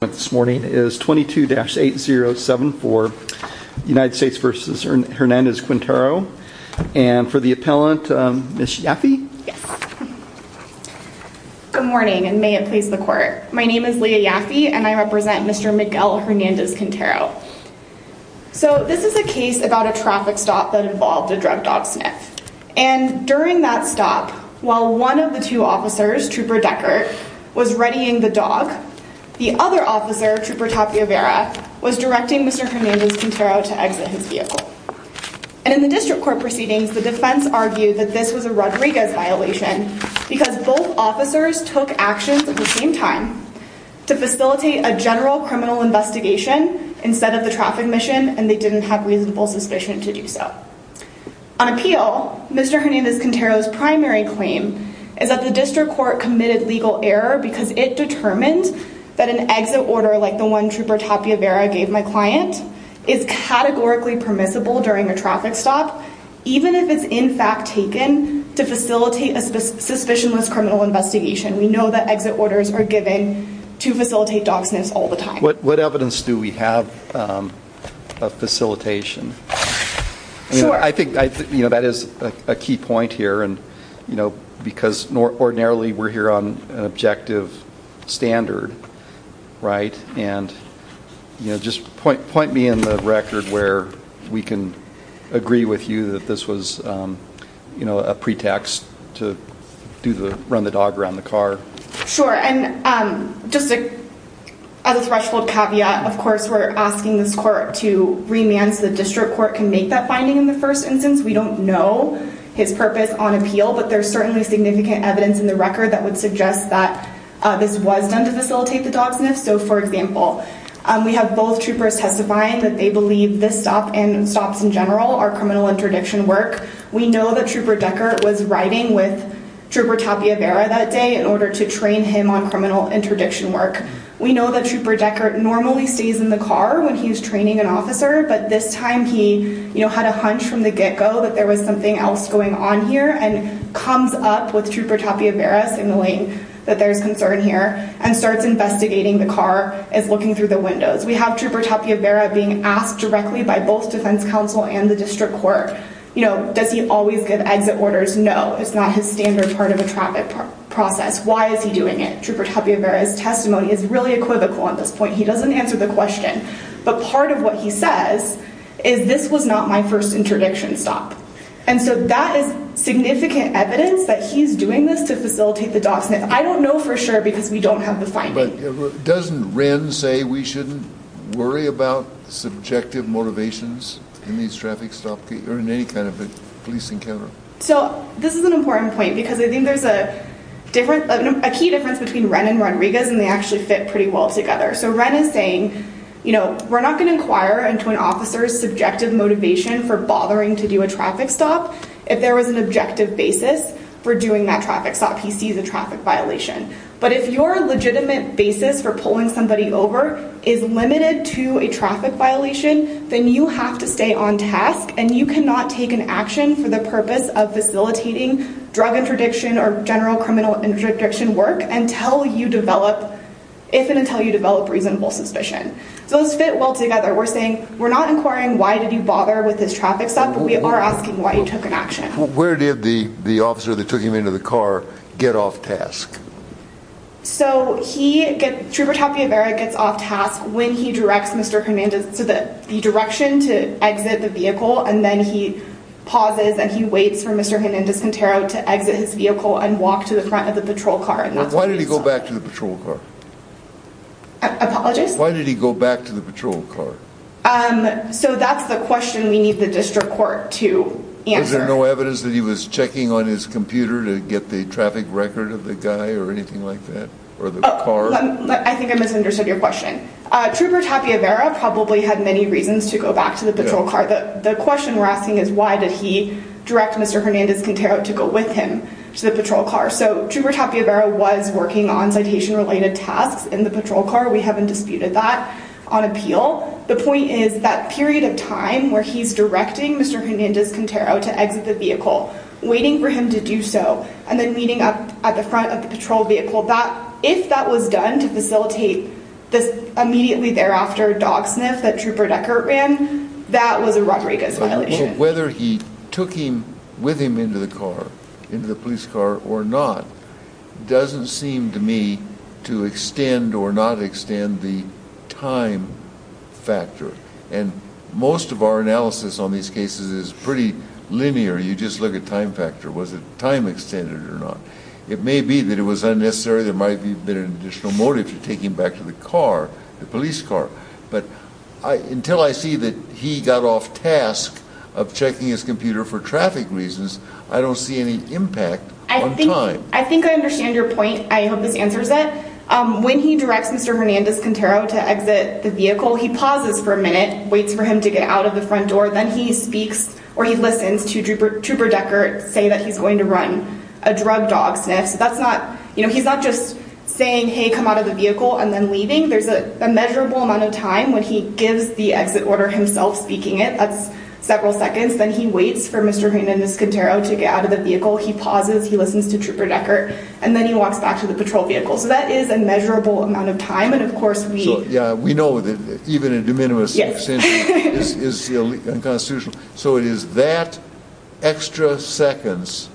This morning is 22-8074 United States v. Hernandez-Quintero and for the appellant, Ms. Yaffe. Good morning and may it please the court. My name is Leah Yaffe and I represent Mr. Miguel Hernandez-Quintero. So this is a case about a traffic stop that involved a drug dog sniff and during that stop while one of the two officers, Trooper Deckert, was readying the dog, the other officer, Trooper Tapiavera, was directing Mr. Hernandez-Quintero to exit his vehicle. And in the district court proceedings, the defense argued that this was a Rodriguez violation because both officers took actions at the same time to facilitate a general criminal investigation instead of the traffic mission and they didn't have reasonable suspicion to do so. On appeal, Mr. Hernandez-Quintero's primary claim is that the district court committed legal error because it determined that an exit order like the one Trooper Tapiavera gave my client is categorically permissible during a traffic stop even if it's in fact taken to facilitate a suspicionless criminal investigation. We know that exit orders are given to facilitate dog sniffs all the time. What evidence do we have of facilitation? I think that is a key point here because ordinarily we're here on an objective standard, right, and you know just point me in the record where we can agree with you that this was, you know, a pretext to run the dog around the car. Sure, and just as a threshold caveat, of course we're asking this court to remand so the district court can make that finding in the first instance. We don't know his purpose on appeal but there's certainly significant evidence in the record that would suggest that this was done to facilitate the dog sniff. So, for example, we have both troopers testifying that they believe this stop and stops in general are criminal interdiction work. We know that Trooper Deckert was riding with Trooper Tapiavera that day in order to train him on criminal interdiction work. We know that Trooper Deckert normally stays in the car when he was training an officer but this time he, you know, had a hunch from the get-go that there was something else going on here and comes up with Trooper Tapiavera, signaling that there's concern here, and starts investigating the car as looking through the windows. We have Trooper Tapiavera being asked directly by both Defense Counsel and the district court, you know, does he always give exit orders? No, it's not his standard part of a traffic process. Why is he doing it? Trooper Tapiavera's testimony is really equivocal on this point. He doesn't answer the question, but part of what he says is this was not my first interdiction stop. And so that is significant evidence that he's doing this to facilitate the DoS sniff. I don't know for sure because we don't have the finding. But doesn't Wren say we shouldn't worry about subjective motivations in these traffic stop or in any kind of a police encounter? So, this is an important point because I think there's a different, a key difference between Wren and We're not going to inquire into an officer's subjective motivation for bothering to do a traffic stop. If there was an objective basis for doing that traffic stop, he sees a traffic violation. But if your legitimate basis for pulling somebody over is limited to a traffic violation, then you have to stay on task and you cannot take an action for the purpose of facilitating drug interdiction or general criminal interdiction work until you develop, if So those fit well together. We're saying, we're not inquiring why did you bother with this traffic stop, but we are asking why you took an action. Where did the officer that took him into the car get off task? So he, Trooper Tapiavera gets off task when he directs Mr. Hernandez, so that the direction to exit the vehicle and then he pauses and he waits for Mr. Hernandez-Contero to exit his vehicle and walk to the front of the patrol car. Why did he go back to the patrol car? So that's the question we need the district court to answer. Is there no evidence that he was checking on his computer to get the traffic record of the guy or anything like that? I think I misunderstood your question. Trooper Tapiavera probably had many reasons to go back to the patrol car. The question we're asking is why did he direct Mr. Hernandez-Contero to go with him to the patrol car? So Trooper Tapiavera was working on citation related tasks in the patrol car. We haven't disputed that on appeal. The point is that period of time where he's directing Mr. Hernandez-Contero to exit the vehicle, waiting for him to do so and then meeting up at the front of the patrol vehicle. If that was done to facilitate this immediately thereafter dog sniff that Trooper Deckert ran, that was a Rodriguez violation. Whether he took him with him into the car, into the police car or not, doesn't seem to me to extend or not extend the time factor. And most of our analysis on these cases is pretty linear. You just look at time factor. Was it time extended or not? It may be that it was unnecessary. There might be been an additional motive to take him back to the car, the police car. But until I see that he got off task of checking his reasons, I don't see any impact on time. I think I understand your point. I hope this answers it. When he directs Mr. Hernandez-Contero to exit the vehicle, he pauses for a minute, waits for him to get out of the front door. Then he speaks or he listens to Trooper Deckert say that he's going to run a drug dog sniff. So that's not, you know, he's not just saying, hey come out of the vehicle and then leaving. There's a measurable amount of time when he gives the exit order himself speaking it. That's several seconds. Then he waits for Mr. Hernandez- Contero to get out of the vehicle. He pauses. He listens to Trooper Deckert. And then he walks back to the patrol vehicle. So that is a measurable amount of time. And of course, we know that even a de minimis extension is unconstitutional. So it is that extra seconds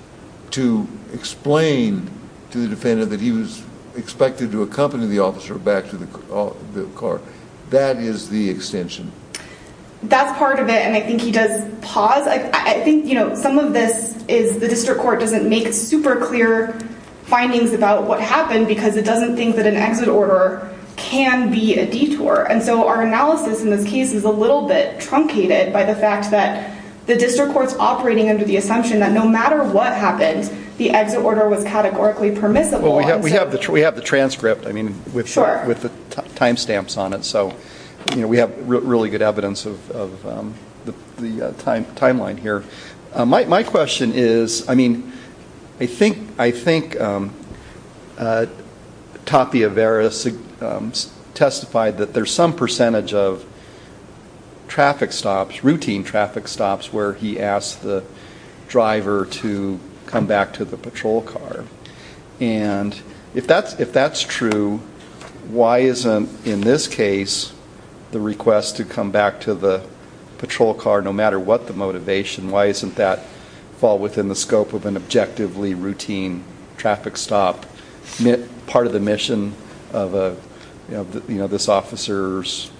to explain to the defendant that he was expected to That's part of it. And I think he does pause. I think, you know, some of this is the district court doesn't make super clear findings about what happened because it doesn't think that an exit order can be a detour. And so our analysis in this case is a little bit truncated by the fact that the district court's operating under the assumption that no matter what happened, the exit order was categorically permissible. We have the transcript, I mean, with the time stamps on it. So, you know, we have really good evidence of the timeline here. My question is, I mean, I think Tapia Veras testified that there's some percentage of traffic stops, routine traffic stops, where he asked the driver to come back to the patrol car. And if that's true, why isn't, in this case, the request to come back to the patrol car, no matter what the motivation, why isn't that fall within the scope of an objectively routine traffic stop part of the mission of this officer's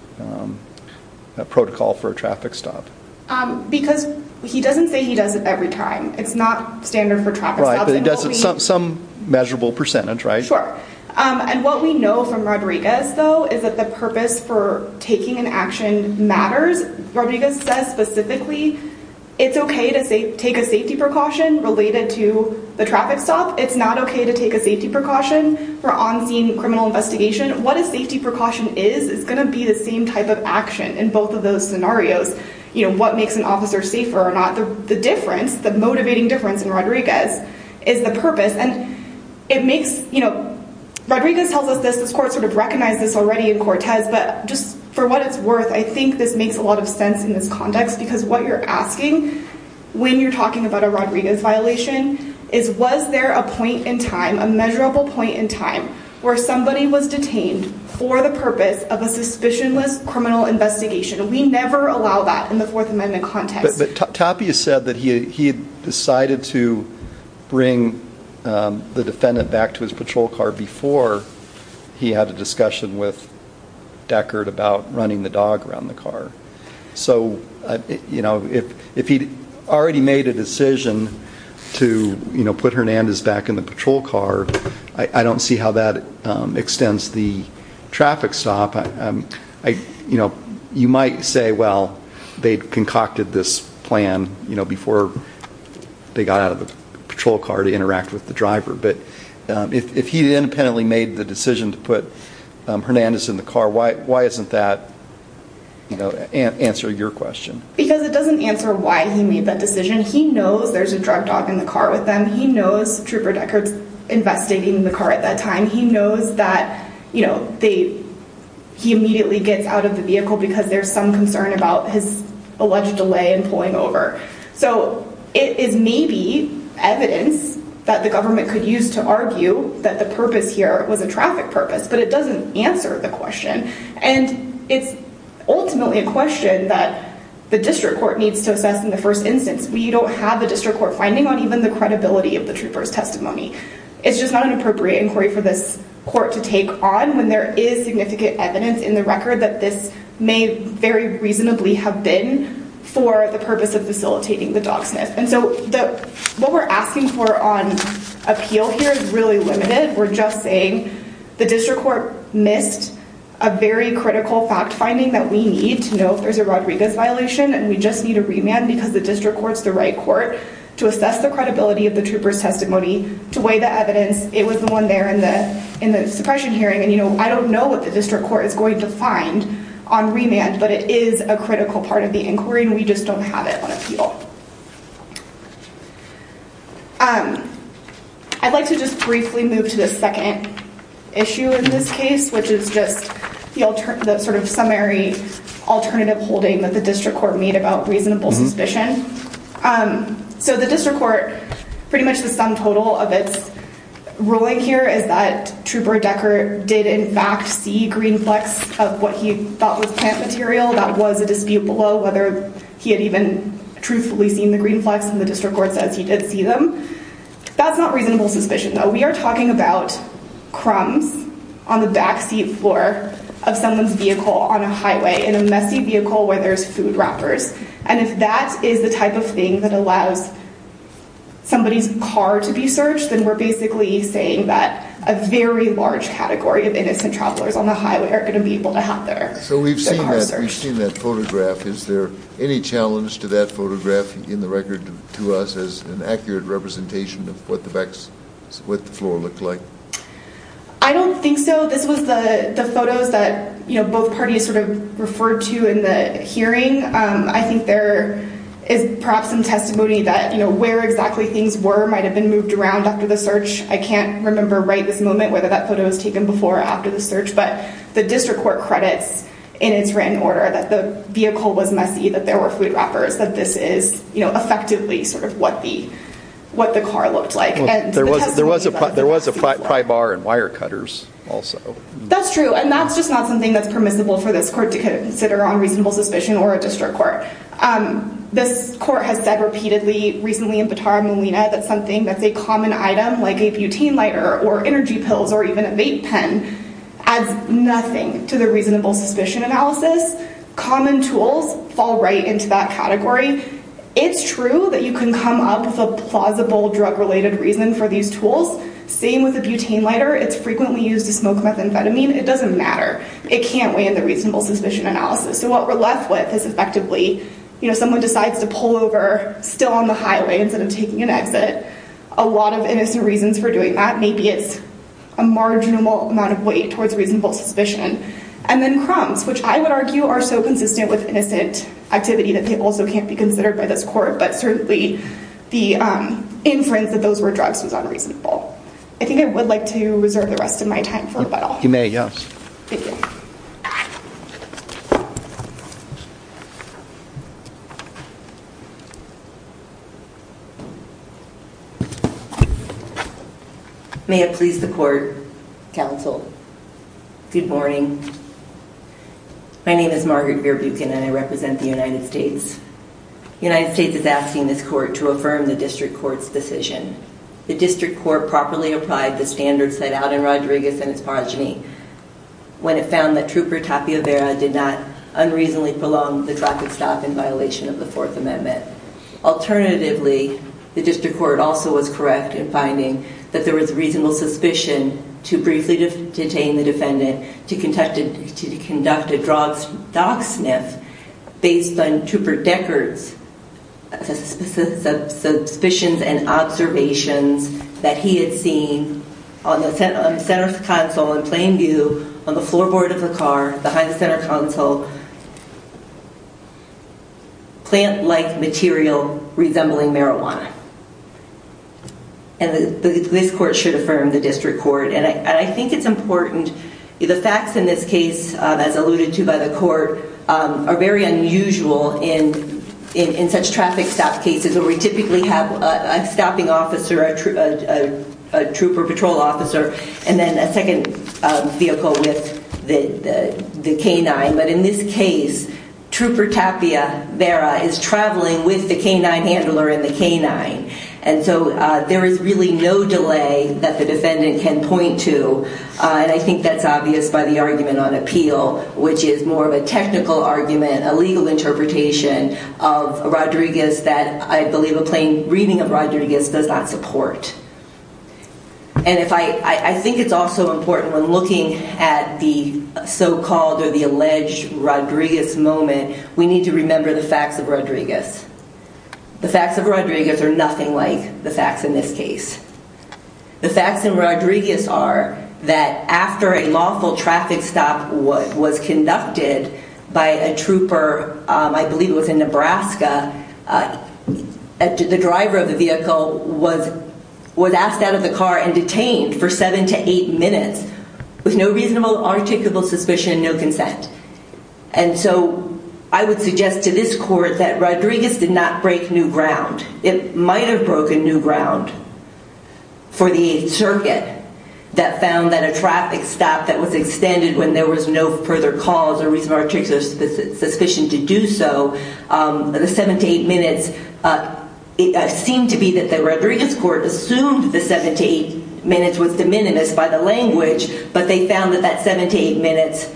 protocol for a traffic stop? Because he doesn't say he does it every time. It's not standard for traffic stops. Right, but he does it some measurable percentage, right? Sure. And what we know from Rodriguez, though, is that the purpose for taking an action matters. Rodriguez says specifically it's okay to take a safety precaution related to the traffic stop. It's not okay to take a safety precaution for on-scene criminal investigation. What a safety precaution is, is going to be the same type of action in both of those scenarios. You know, the motivating difference in Rodriguez is the purpose. And it makes, you know, Rodriguez tells us this, this court sort of recognized this already in Cortez, but just for what it's worth, I think this makes a lot of sense in this context, because what you're asking when you're talking about a Rodriguez violation is, was there a point in time, a measurable point in time, where somebody was detained for the purpose of a suspicionless criminal investigation? We never allow that in the Fourth Amendment context. But Tapia said that he decided to bring the defendant back to his patrol car before he had a discussion with Deckard about running the dog around the car. So, you know, if he'd already made a decision to, you know, put Hernandez back in the patrol car, I don't see how that extends the traffic stop. You know, you might say, well, they'd concocted this plan, you know, before they got out of the patrol car to interact with the driver. But if he independently made the decision to put Hernandez in the car, why, why isn't that, you know, answer your question? Because it doesn't answer why he made that decision. He knows there's a drug dog in the car with them. He knows Trooper Deckard's investigating in the car at that time. He knows that, you know, they, he immediately gets out of the car. He knows that there was some concern about his alleged delay in pulling over. So, it is maybe evidence that the government could use to argue that the purpose here was a traffic purpose, but it doesn't answer the question. And it's ultimately a question that the district court needs to assess in the first instance. We don't have a district court finding on even the credibility of the Trooper's testimony. It's just not an appropriate inquiry for this court to take on when there is significant evidence in the record that this may very reasonably have been for the purpose of facilitating the dogsmith. And so, what we're asking for on appeal here is really limited. We're just saying the district court missed a very critical fact-finding that we need to know if there's a Rodriguez violation and we just need a remand because the district court's the right court to assess the credibility of the Trooper's in the suppression hearing. And, you know, I don't know what the district court is going to find on remand, but it is a critical part of the inquiry and we just don't have it on appeal. I'd like to just briefly move to the second issue in this case, which is just the sort of summary alternative holding that the district court made about reasonable suspicion. So, the district court, pretty much, said that Trooper Decker did in fact see green flecks of what he thought was plant material. That was a dispute below whether he had even truthfully seen the green flecks and the district court says he did see them. That's not reasonable suspicion, though. We are talking about crumbs on the backseat floor of someone's vehicle on a highway in a messy vehicle where there's food wrappers. And if that is the type of thing that allows somebody's car to be searched, then we're basically saying that a very large category of innocent travelers on the highway are going to be able to have their car searched. So, we've seen that photograph. Is there any challenge to that photograph in the record to us as an accurate representation of what the backs, what the floor looked like? I don't think so. This was the photos that, you know, both parties sort of referred to in the hearing. I think there is perhaps some testimony that, you know, where exactly things were might have been moved around after the search. I can't remember right this moment whether that photo was taken before or after the search, but the district court credits in its written order that the vehicle was messy, that there were food wrappers, that this is, you know, effectively sort of what the, what the car looked like. There was a pry bar and wire cutters also. That's true and that's just not something that's permissible for this court to consider on reasonable suspicion or a district court. This court has said repeatedly recently in Batara Molina that something that's a common item like a butane lighter or energy pills or even a vape pen adds nothing to the reasonable suspicion analysis. Common tools fall right into that category. It's true that you can come up with a plausible drug-related reason for these tools. Same with a butane lighter. It's frequently used to smoke methamphetamine. It doesn't matter. It can't weigh in the reasonable suspicion analysis. So, what we're left with is effectively, you know, someone decides to pull over still on the highway instead of taking an exit. A lot of innocent reasons for doing that. Maybe it's a marginal amount of weight towards reasonable suspicion. And then crumbs, which I would argue are so consistent with innocent activity that they also can't be considered by this court, but certainly the inference that those were drugs was unreasonable. I think I would like to reserve the rest of my time for rebuttal. You may, yes. May it please the court, counsel. Good morning. My name is Margaret Veer Buchan and I represent the United States. The United States is asking this court to affirm the district court's decision. The district court properly applied the case of Rodriguez and his progeny when it found that Trooper Tapia Vera did not unreasonably prolong the traffic stop in violation of the Fourth Amendment. Alternatively, the district court also was correct in finding that there was reasonable suspicion to briefly detain the defendant to conduct a dog sniff based on Trooper Deckard's suspicions and observations that he had seen on the center console in plain view, on the floorboard of the car, behind the center console, plant-like material resembling marijuana. And this court should affirm the district court. And I think it's important, the facts in this case, as alluded to by the court, are very unusual in such traffic stop cases where we have a trooper patrol officer and then a second vehicle with the canine. But in this case, Trooper Tapia Vera is traveling with the canine handler and the canine. And so there is really no delay that the defendant can point to. I think that's obvious by the argument on appeal, which is more of a technical argument, a legal interpretation of Rodriguez that I believe a plain reading of Rodriguez does not support. And I think it's also important when looking at the so-called or the alleged Rodriguez moment, we need to remember the facts of Rodriguez. The facts of Rodriguez are nothing like the facts in this case. The facts in Rodriguez are that after a lawful traffic stop was conducted by a trooper, I believe it was in Nebraska, the driver of the vehicle was asked out of the car and detained for seven to eight minutes with no reasonable articulable suspicion, no consent. And so I would suggest to this court that Rodriguez did not break new ground. It might have broken new ground for the Eighth Circuit that found that a traffic stop that was extended when there was no further cause or reason or the seven to eight minutes seemed to be that the Rodriguez court assumed the seven to eight minutes was de minimis by the language, but they found that that seven to eight minutes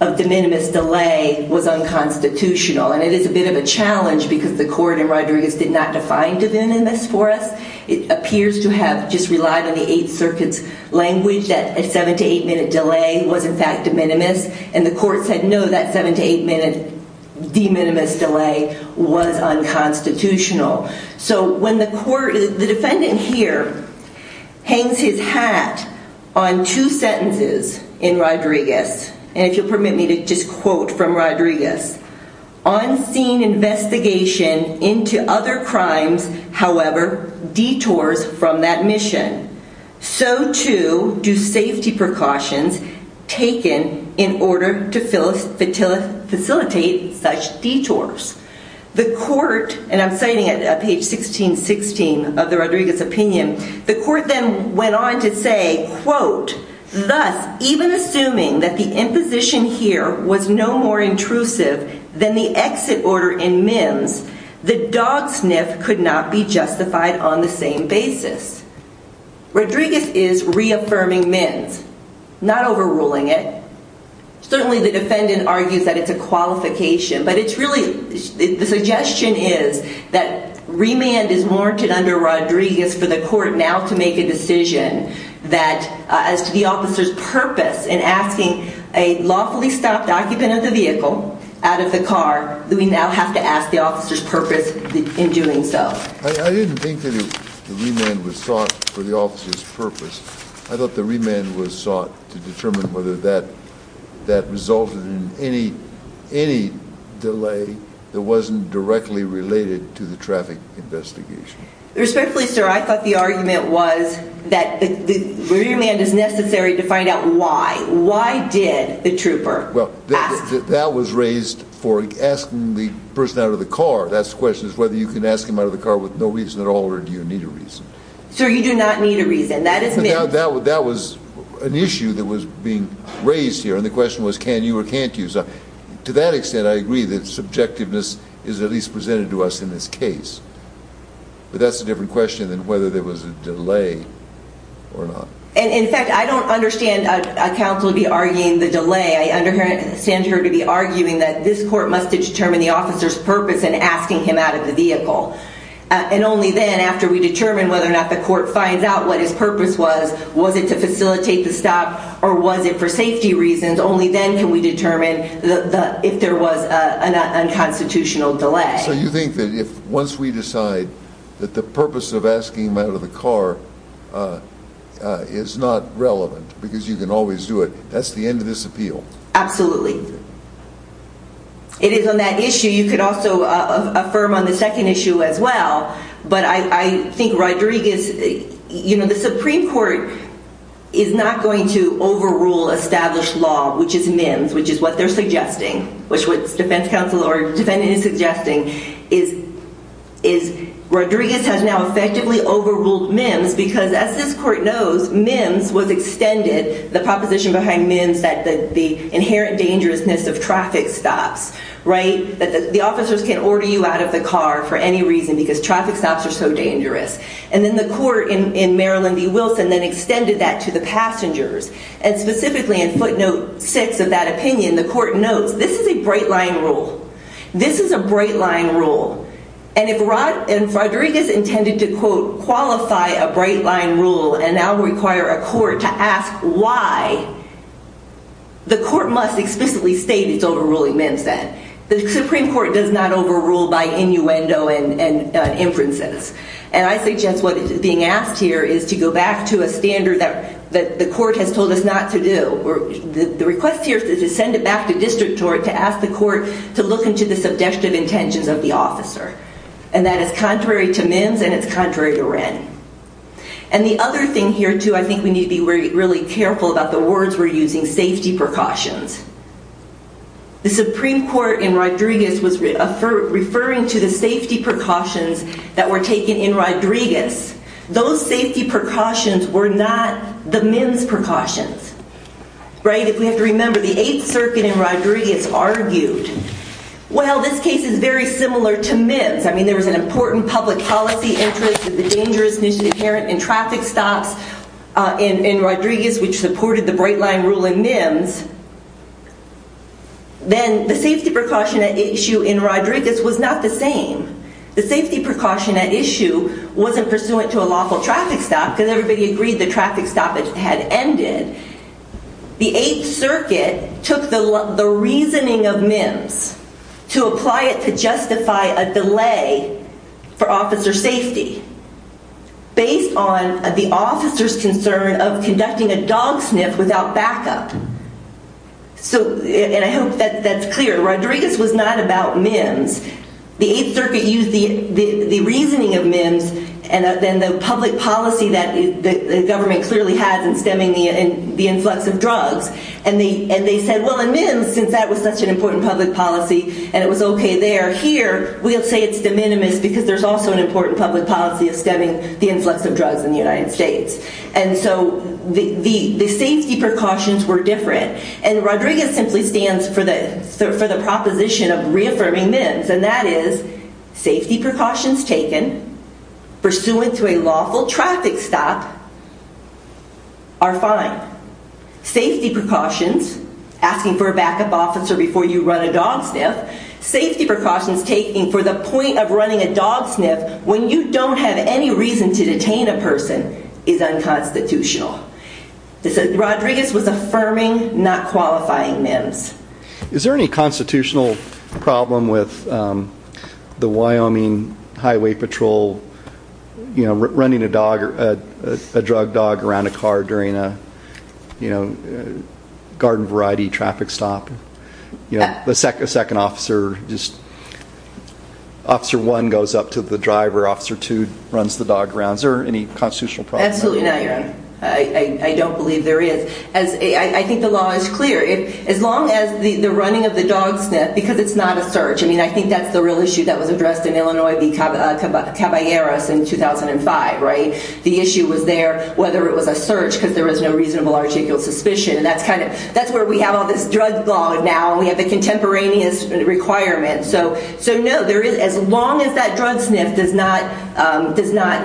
of de minimis delay was unconstitutional. And it is a bit of a challenge because the court in Rodriguez did not define de minimis for us. It appears to have just relied on the Eighth Circuit's language that a seven to eight minute delay was in fact de minimis. And the court said no, that seven to eight minute de minimis delay was unconstitutional. So when the court, the defendant here hangs his hat on two sentences in Rodriguez, and if you'll permit me to just quote from Rodriguez, on scene investigation into other crimes however detours from that mission. So too do safety precautions taken in order to facilitate such detours. The court, and I'm citing it at page 1616 of the Rodriguez opinion, the court then went on to say, quote, thus even assuming that the imposition here was no more intrusive than the exit order in Mims, the dog sniff could not be justified on the same basis. Rodriguez is reaffirming Mims, not is that it's a qualification. But it's really the suggestion is that remand is warranted under Rodriguez for the court now to make a decision that as to the officer's purpose in asking a lawfully stopped occupant of the vehicle out of the car, we now have to ask the officer's purpose in doing so. I didn't think that the remand was sought for the officer's purpose. I thought the remand was sought to determine whether that that resulted in any any delay that wasn't directly related to the traffic investigation. Respectfully, sir, I thought the argument was that the remand is necessary to find out why. Why did the trooper? Well, that was raised for asking the person out of the car. That's the question is whether you can ask him out of the car with no reason at all or do you need a reason? Sir, you do not need a reason. That is now that that was an issue that was being raised here. And the question was, can you or can't you? So to that extent, I agree that subjectiveness is at least presented to us in this case. But that's a different question than whether there was a delay or not. And in fact, I don't understand a council to be arguing the delay. I understand her to be arguing that this court must determine the officer's purpose in asking him out of the vehicle. And only then, after we determine whether or not the court finds out what his purpose was, was it to facilitate the stop or was it for safety reasons? Only then can we determine if there was an unconstitutional delay. So you think that if once we decide that the purpose of asking him out of the car is not relevant because you can always do it, that's the end of this appeal? Absolutely. It is on that issue. You could also affirm on the second issue as well. But I think Rodriguez, you know, the Supreme Court is not going to overrule established law, which is MIMS, which is what they're suggesting, which what defense counsel or defendant is suggesting is is Rodriguez has now effectively overruled MIMS because as this court knows, MIMS was extended, the inherent dangerousness of traffic stops, right? That the officers can order you out of the car for any reason because traffic stops are so dangerous. And then the court in Maryland v. Wilson then extended that to the passengers. And specifically in footnote six of that opinion, the court notes this is a bright-line rule. This is a bright-line rule. And if Rodriguez intended to quote, qualify a bright-line rule and now require a court to ask why, the court must explicitly state it's overruling MIMS then. The Supreme Court does not overrule by innuendo and inferences. And I suggest what is being asked here is to go back to a standard that the court has told us not to do. The request here is to send it back to district court to ask the court to look into the subjective intentions of the officer. And that is contrary to MIMS and it's contrary to Wren. And the other thing here, too, I think we need to be really careful about the words we're using, safety precautions. The Supreme Court in Rodriguez was referring to the safety precautions that were taken in Rodriguez. Those safety precautions were not the MIMS precautions, right? If we have to remember the Eighth Circuit in Rodriguez argued, well this case is very similar to MIMS. I mean there was an important public policy interest, the dangerousness inherent in traffic stops in Rodriguez, which supported the bright-line rule in MIMS. Then the safety precaution at issue in Rodriguez was not the same. The safety precaution at issue wasn't pursuant to a lawful traffic stop because everybody agreed the traffic stop had ended. The Eighth Circuit took the reasoning of MIMS to apply it to justify a delay for officer safety based on the officer's concern of conducting a dog sniff without backup. So, and I hope that's clear, Rodriguez was not about MIMS. The Eighth Circuit used the reasoning of MIMS and then the public policy that the government clearly has in stemming the influx of drugs. And they said, well in MIMS, since that was such an important public policy and it was okay there, here we'll say it's de minimis because there's also an important public policy of stemming the influx of drugs in the United States. And so the safety precautions were different. And Rodriguez simply stands for the proposition of reaffirming MIMS and that is safety precautions taken pursuant to a lawful traffic stop are fine. Safety precautions, asking for a backup officer before you run a dog sniff, safety precautions taking for the point of running a dog sniff when you don't have any reason to detain a person is unconstitutional. Rodriguez was affirming not qualifying MIMS. Is there any constitutional problem with the Wyoming Highway Patrol, you know, running a dog, a drug dog around a car during a, you know, garden variety traffic stop? You know, the second officer, just, officer one goes up to the driver, officer two runs the dog around. Is there any constitutional problem? Absolutely not, your honor. I don't believe there is. I think the law is clear. As long as the running of the dog sniff, because it's not a search, I mean, I think that's the real issue that was addressed in Illinois v. Caballeras in 2005, right? The issue was there whether it was a search because there was no reasonable articial suspicion and that's kind of, that's where we have all this drug law now and we have the contemporaneous requirement. So, so no, there is, as long as that drug sniff does not, does not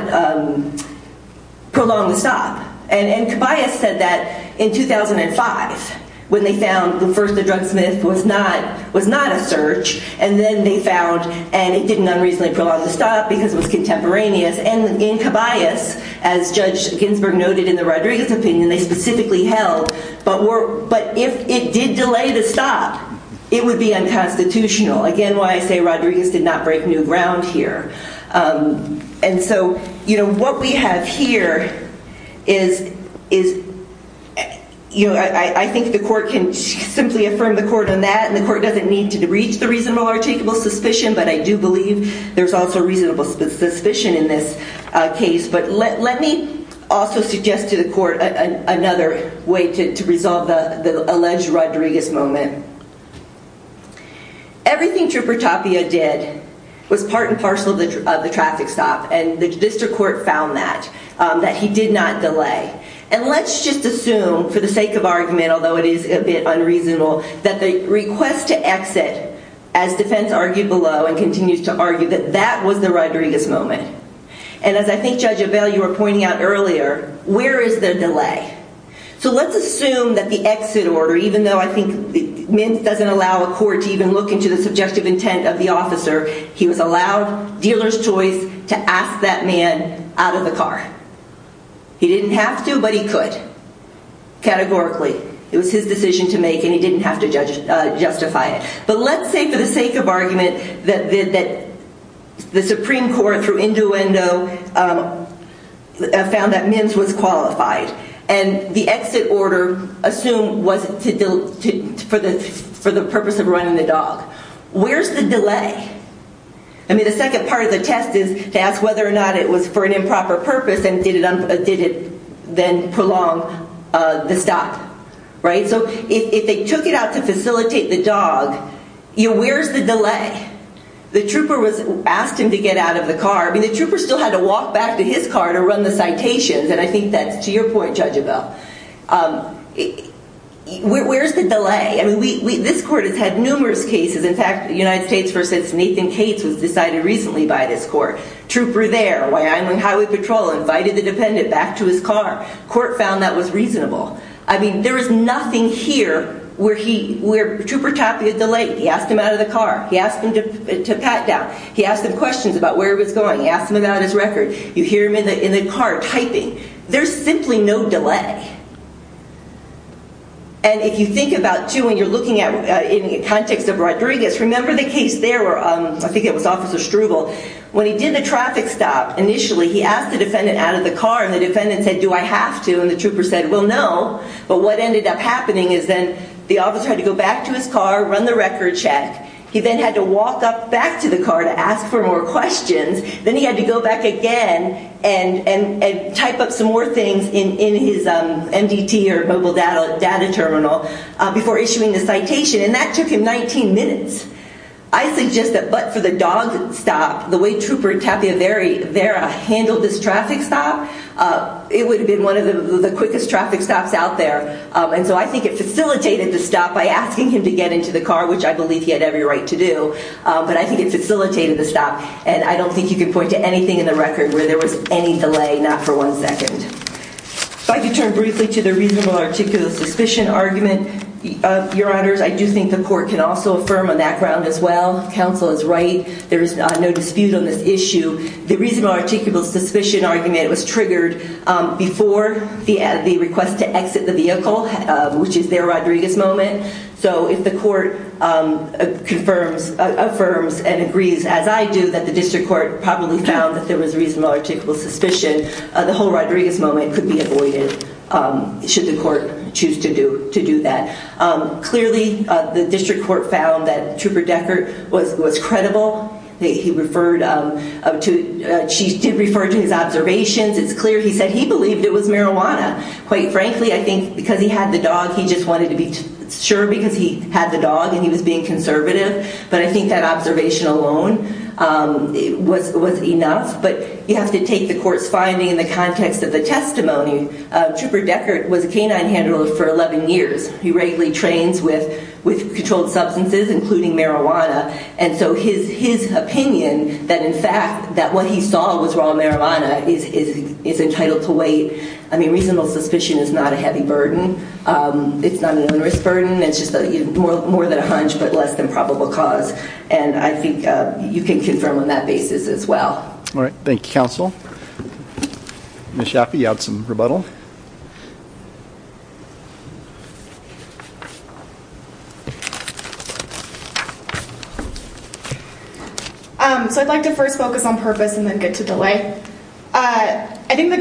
prolong the stop. And Caballeras said that in 2005 when they found the first drug sniff was not, was not a search and then they found, and it didn't unreasonably prolong the stop because it was contemporaneous. And in Caballeras, as Judge Ginsburg noted in the Rodriguez opinion, they specifically held, but were, but if it did delay the stop, it would be unconstitutional. Again, why I say Rodriguez did not break new ground here. And so, you know, what we have here is, is, you know, I think the court can simply affirm the court on that and the court doesn't need to reach the reasonable articial suspicion, but I do believe there's also reasonable suspicion in this case. But let me also suggest to the court another way to resolve the alleged Rodriguez moment. Everything Trooper Tapia did was part and parcel of the traffic stop and the district court found that, that he did not delay. And let's just assume, for the sake of argument, although it is a bit unreasonable, that the request to exit, as defense argued below and continues to and as I think Judge Avella, you were pointing out earlier, where is the delay? So let's assume that the exit order, even though I think Mims doesn't allow a court to even look into the subjective intent of the officer, he was allowed dealer's choice to ask that man out of the car. He didn't have to, but he could. Categorically, it was his decision to make and he didn't have to justify it. But let's say, for the sake of argument, that the Supreme Court, through duendo, found that Mims was qualified and the exit order assumed was for the purpose of running the dog. Where's the delay? I mean the second part of the test is to ask whether or not it was for an improper purpose and did it then prolong the stop, right? So if they took it out to facilitate the dog, where's the delay? The trooper was asked him to get out of the car. I mean the trooper still had to walk back to his car to run the citations and I think that's to your point, Judge Avella. Where's the delay? I mean this court has had numerous cases. In fact, the United States versus Nathan Cates was decided recently by this court. Trooper there, Wyoming Highway Patrol, invited the defendant back to his car. Court found that was reasonable. I mean there is nothing here where trooper typed a delay. He asked him out of the car. He asked him to pat down. He asked him questions about where he was going. He asked him about his record. You hear him in the car typing. There's simply no delay. And if you think about, too, when you're looking at in the context of Rodriguez, remember the case there where I think it was Officer Struble. When he did the traffic stop, initially he asked the defendant out of the car and the defendant said, do I have to? And the trooper said, well no. But what ended up happening is then the officer had to go back to his car, run the record check. He then had to walk up back to the car to ask for more questions. Then he had to go back again and type up some more things in his MDT or mobile data terminal before issuing the citation. And that took him 19 minutes. I suggest that but for the dog stop, the way trooper Tapia Vera handled this traffic stop, it would have been one of the quickest traffic stops out there. And so I think it facilitated the stop by asking him to get into the car, which I believe he had every right to do. But I think it facilitated the stop. And I don't think you can point to anything in the record where there was any delay, not for one second. If I could turn briefly to the reasonable articulous suspicion argument, Your Honors, I do think the court can also affirm on that ground as well. Counsel is right. There's no dispute on this issue. The reasonable articulous suspicion argument was triggered before the request to exit the vehicle, which is their Rodriguez moment. So if the court confirms and agrees, as I do, that the district court probably found that there was reasonable articulous suspicion, the whole Rodriguez moment could be avoided should the court choose to do to do that. Clearly the district court found that Trooper Deckert was credible. He referred to, she did refer to his observations. It's clear he said he believed it was marijuana. Quite frankly, I think because he had the dog, he just wanted to be sure because he had the dog and he was being conservative. But I think that observation alone was enough. But you have to take the court's finding in the context of the testimony. Trooper Deckert was a canine handler for 11 years. He regularly trains with controlled substances, including marijuana. And so his opinion that, in fact, that what he saw was raw marijuana is entitled to wait. I mean, reasonable suspicion is not a heavy burden. It's not an onerous burden. It's just more than a hunch, but less than probable cause. And I think you can confirm on that basis as well. All right. Thank you, counsel. Ms. Schaffee, you had some rebuttal. So I'd like to first focus on purpose and then get to delay. I think the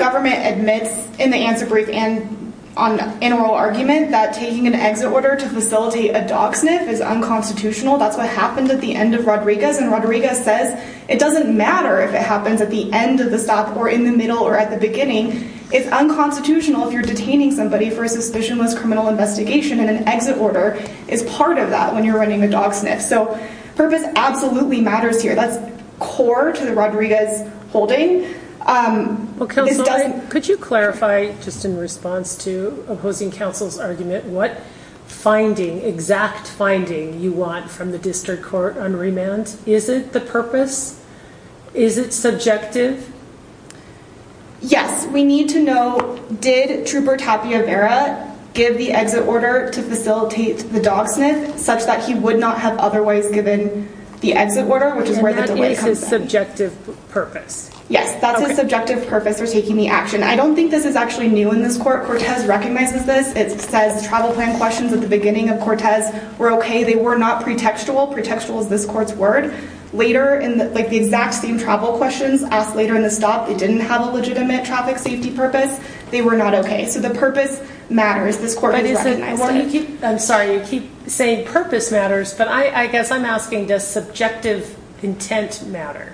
in oral argument that taking an exit order to facilitate a dog sniff is unconstitutional. That's what happened at the end of Rodriguez. And Rodriguez says it doesn't matter if it happens at the end of the stop or in the middle or at the beginning. It's unconstitutional if you're detaining somebody for a suspicionless criminal investigation and an exit order is part of that when you're running a dog sniff. So purpose absolutely matters here. That's core to this. Could you clarify, just in response to opposing counsel's argument, what finding exact finding you want from the district court on remand? Is it the purpose? Is it subjective? Yes, we need to know. Did Trooper Tapia Vera give the exit order to facilitate the dog sniff such that he would not have otherwise given the exit order, which is where the subjective purpose? Yes, that's a subjective purpose for taking the action. I don't think this is actually new in this court. Cortez recognizes this. It says the travel plan questions at the beginning of Cortez were okay. They were not pretextual. Pretextual is this court's word. Later in, like the exact same travel questions asked later in the stop, it didn't have a legitimate traffic safety purpose. They were not okay. So the purpose matters. This court has recognized it. I'm sorry, you keep saying purpose matters, but I guess I'm asking does subjective intent matter?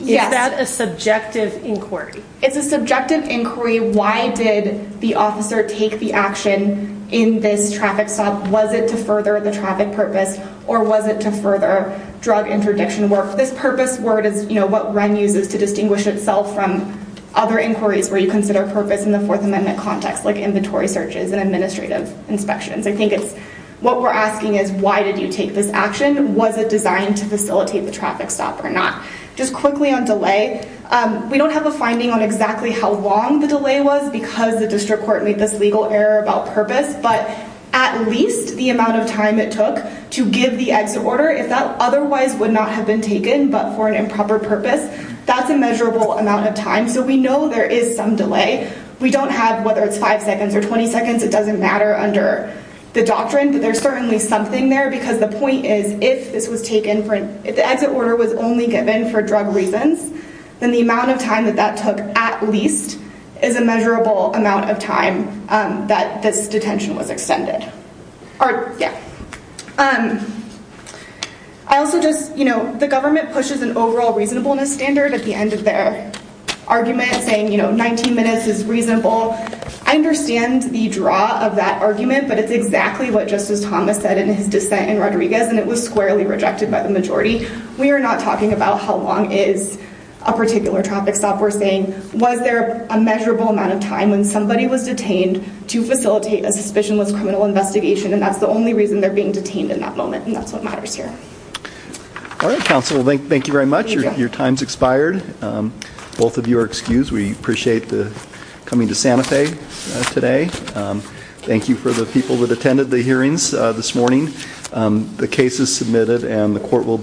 Is that a subjective inquiry? It's a subjective inquiry. Why did the officer take the action in this traffic stop? Was it to further the traffic purpose or was it to further drug interdiction work? This purpose word is what Wren uses to distinguish itself from other inquiries where you consider purpose in the Fourth Amendment context, like inventory searches and administrative inspections. I think it's what we're asking is why did you take this action? Just quickly on delay, we don't have a finding on exactly how long the delay was because the district court made this legal error about purpose, but at least the amount of time it took to give the exit order, if that otherwise would not have been taken, but for an improper purpose, that's a measurable amount of time. So we know there is some delay. We don't have, whether it's five seconds or 20 seconds, it doesn't matter under the doctrine, but there's if the exit order was only given for drug reasons, then the amount of time that that took at least is a measurable amount of time that this detention was extended. The government pushes an overall reasonableness standard at the end of their argument saying 19 minutes is reasonable. I understand the draw of that argument, but it's squarely rejected by the majority. We are not talking about how long is a particular traffic stop. We're saying, was there a measurable amount of time when somebody was detained to facilitate a suspicionless criminal investigation? And that's the only reason they're being detained in that moment. And that's what matters here. All right, counsel. Thank you very much. Your time's expired. Both of you are excused. We appreciate the coming to Santa Fe today. Thank you for the people that attended the hearings this morning. The case is submitted and the court will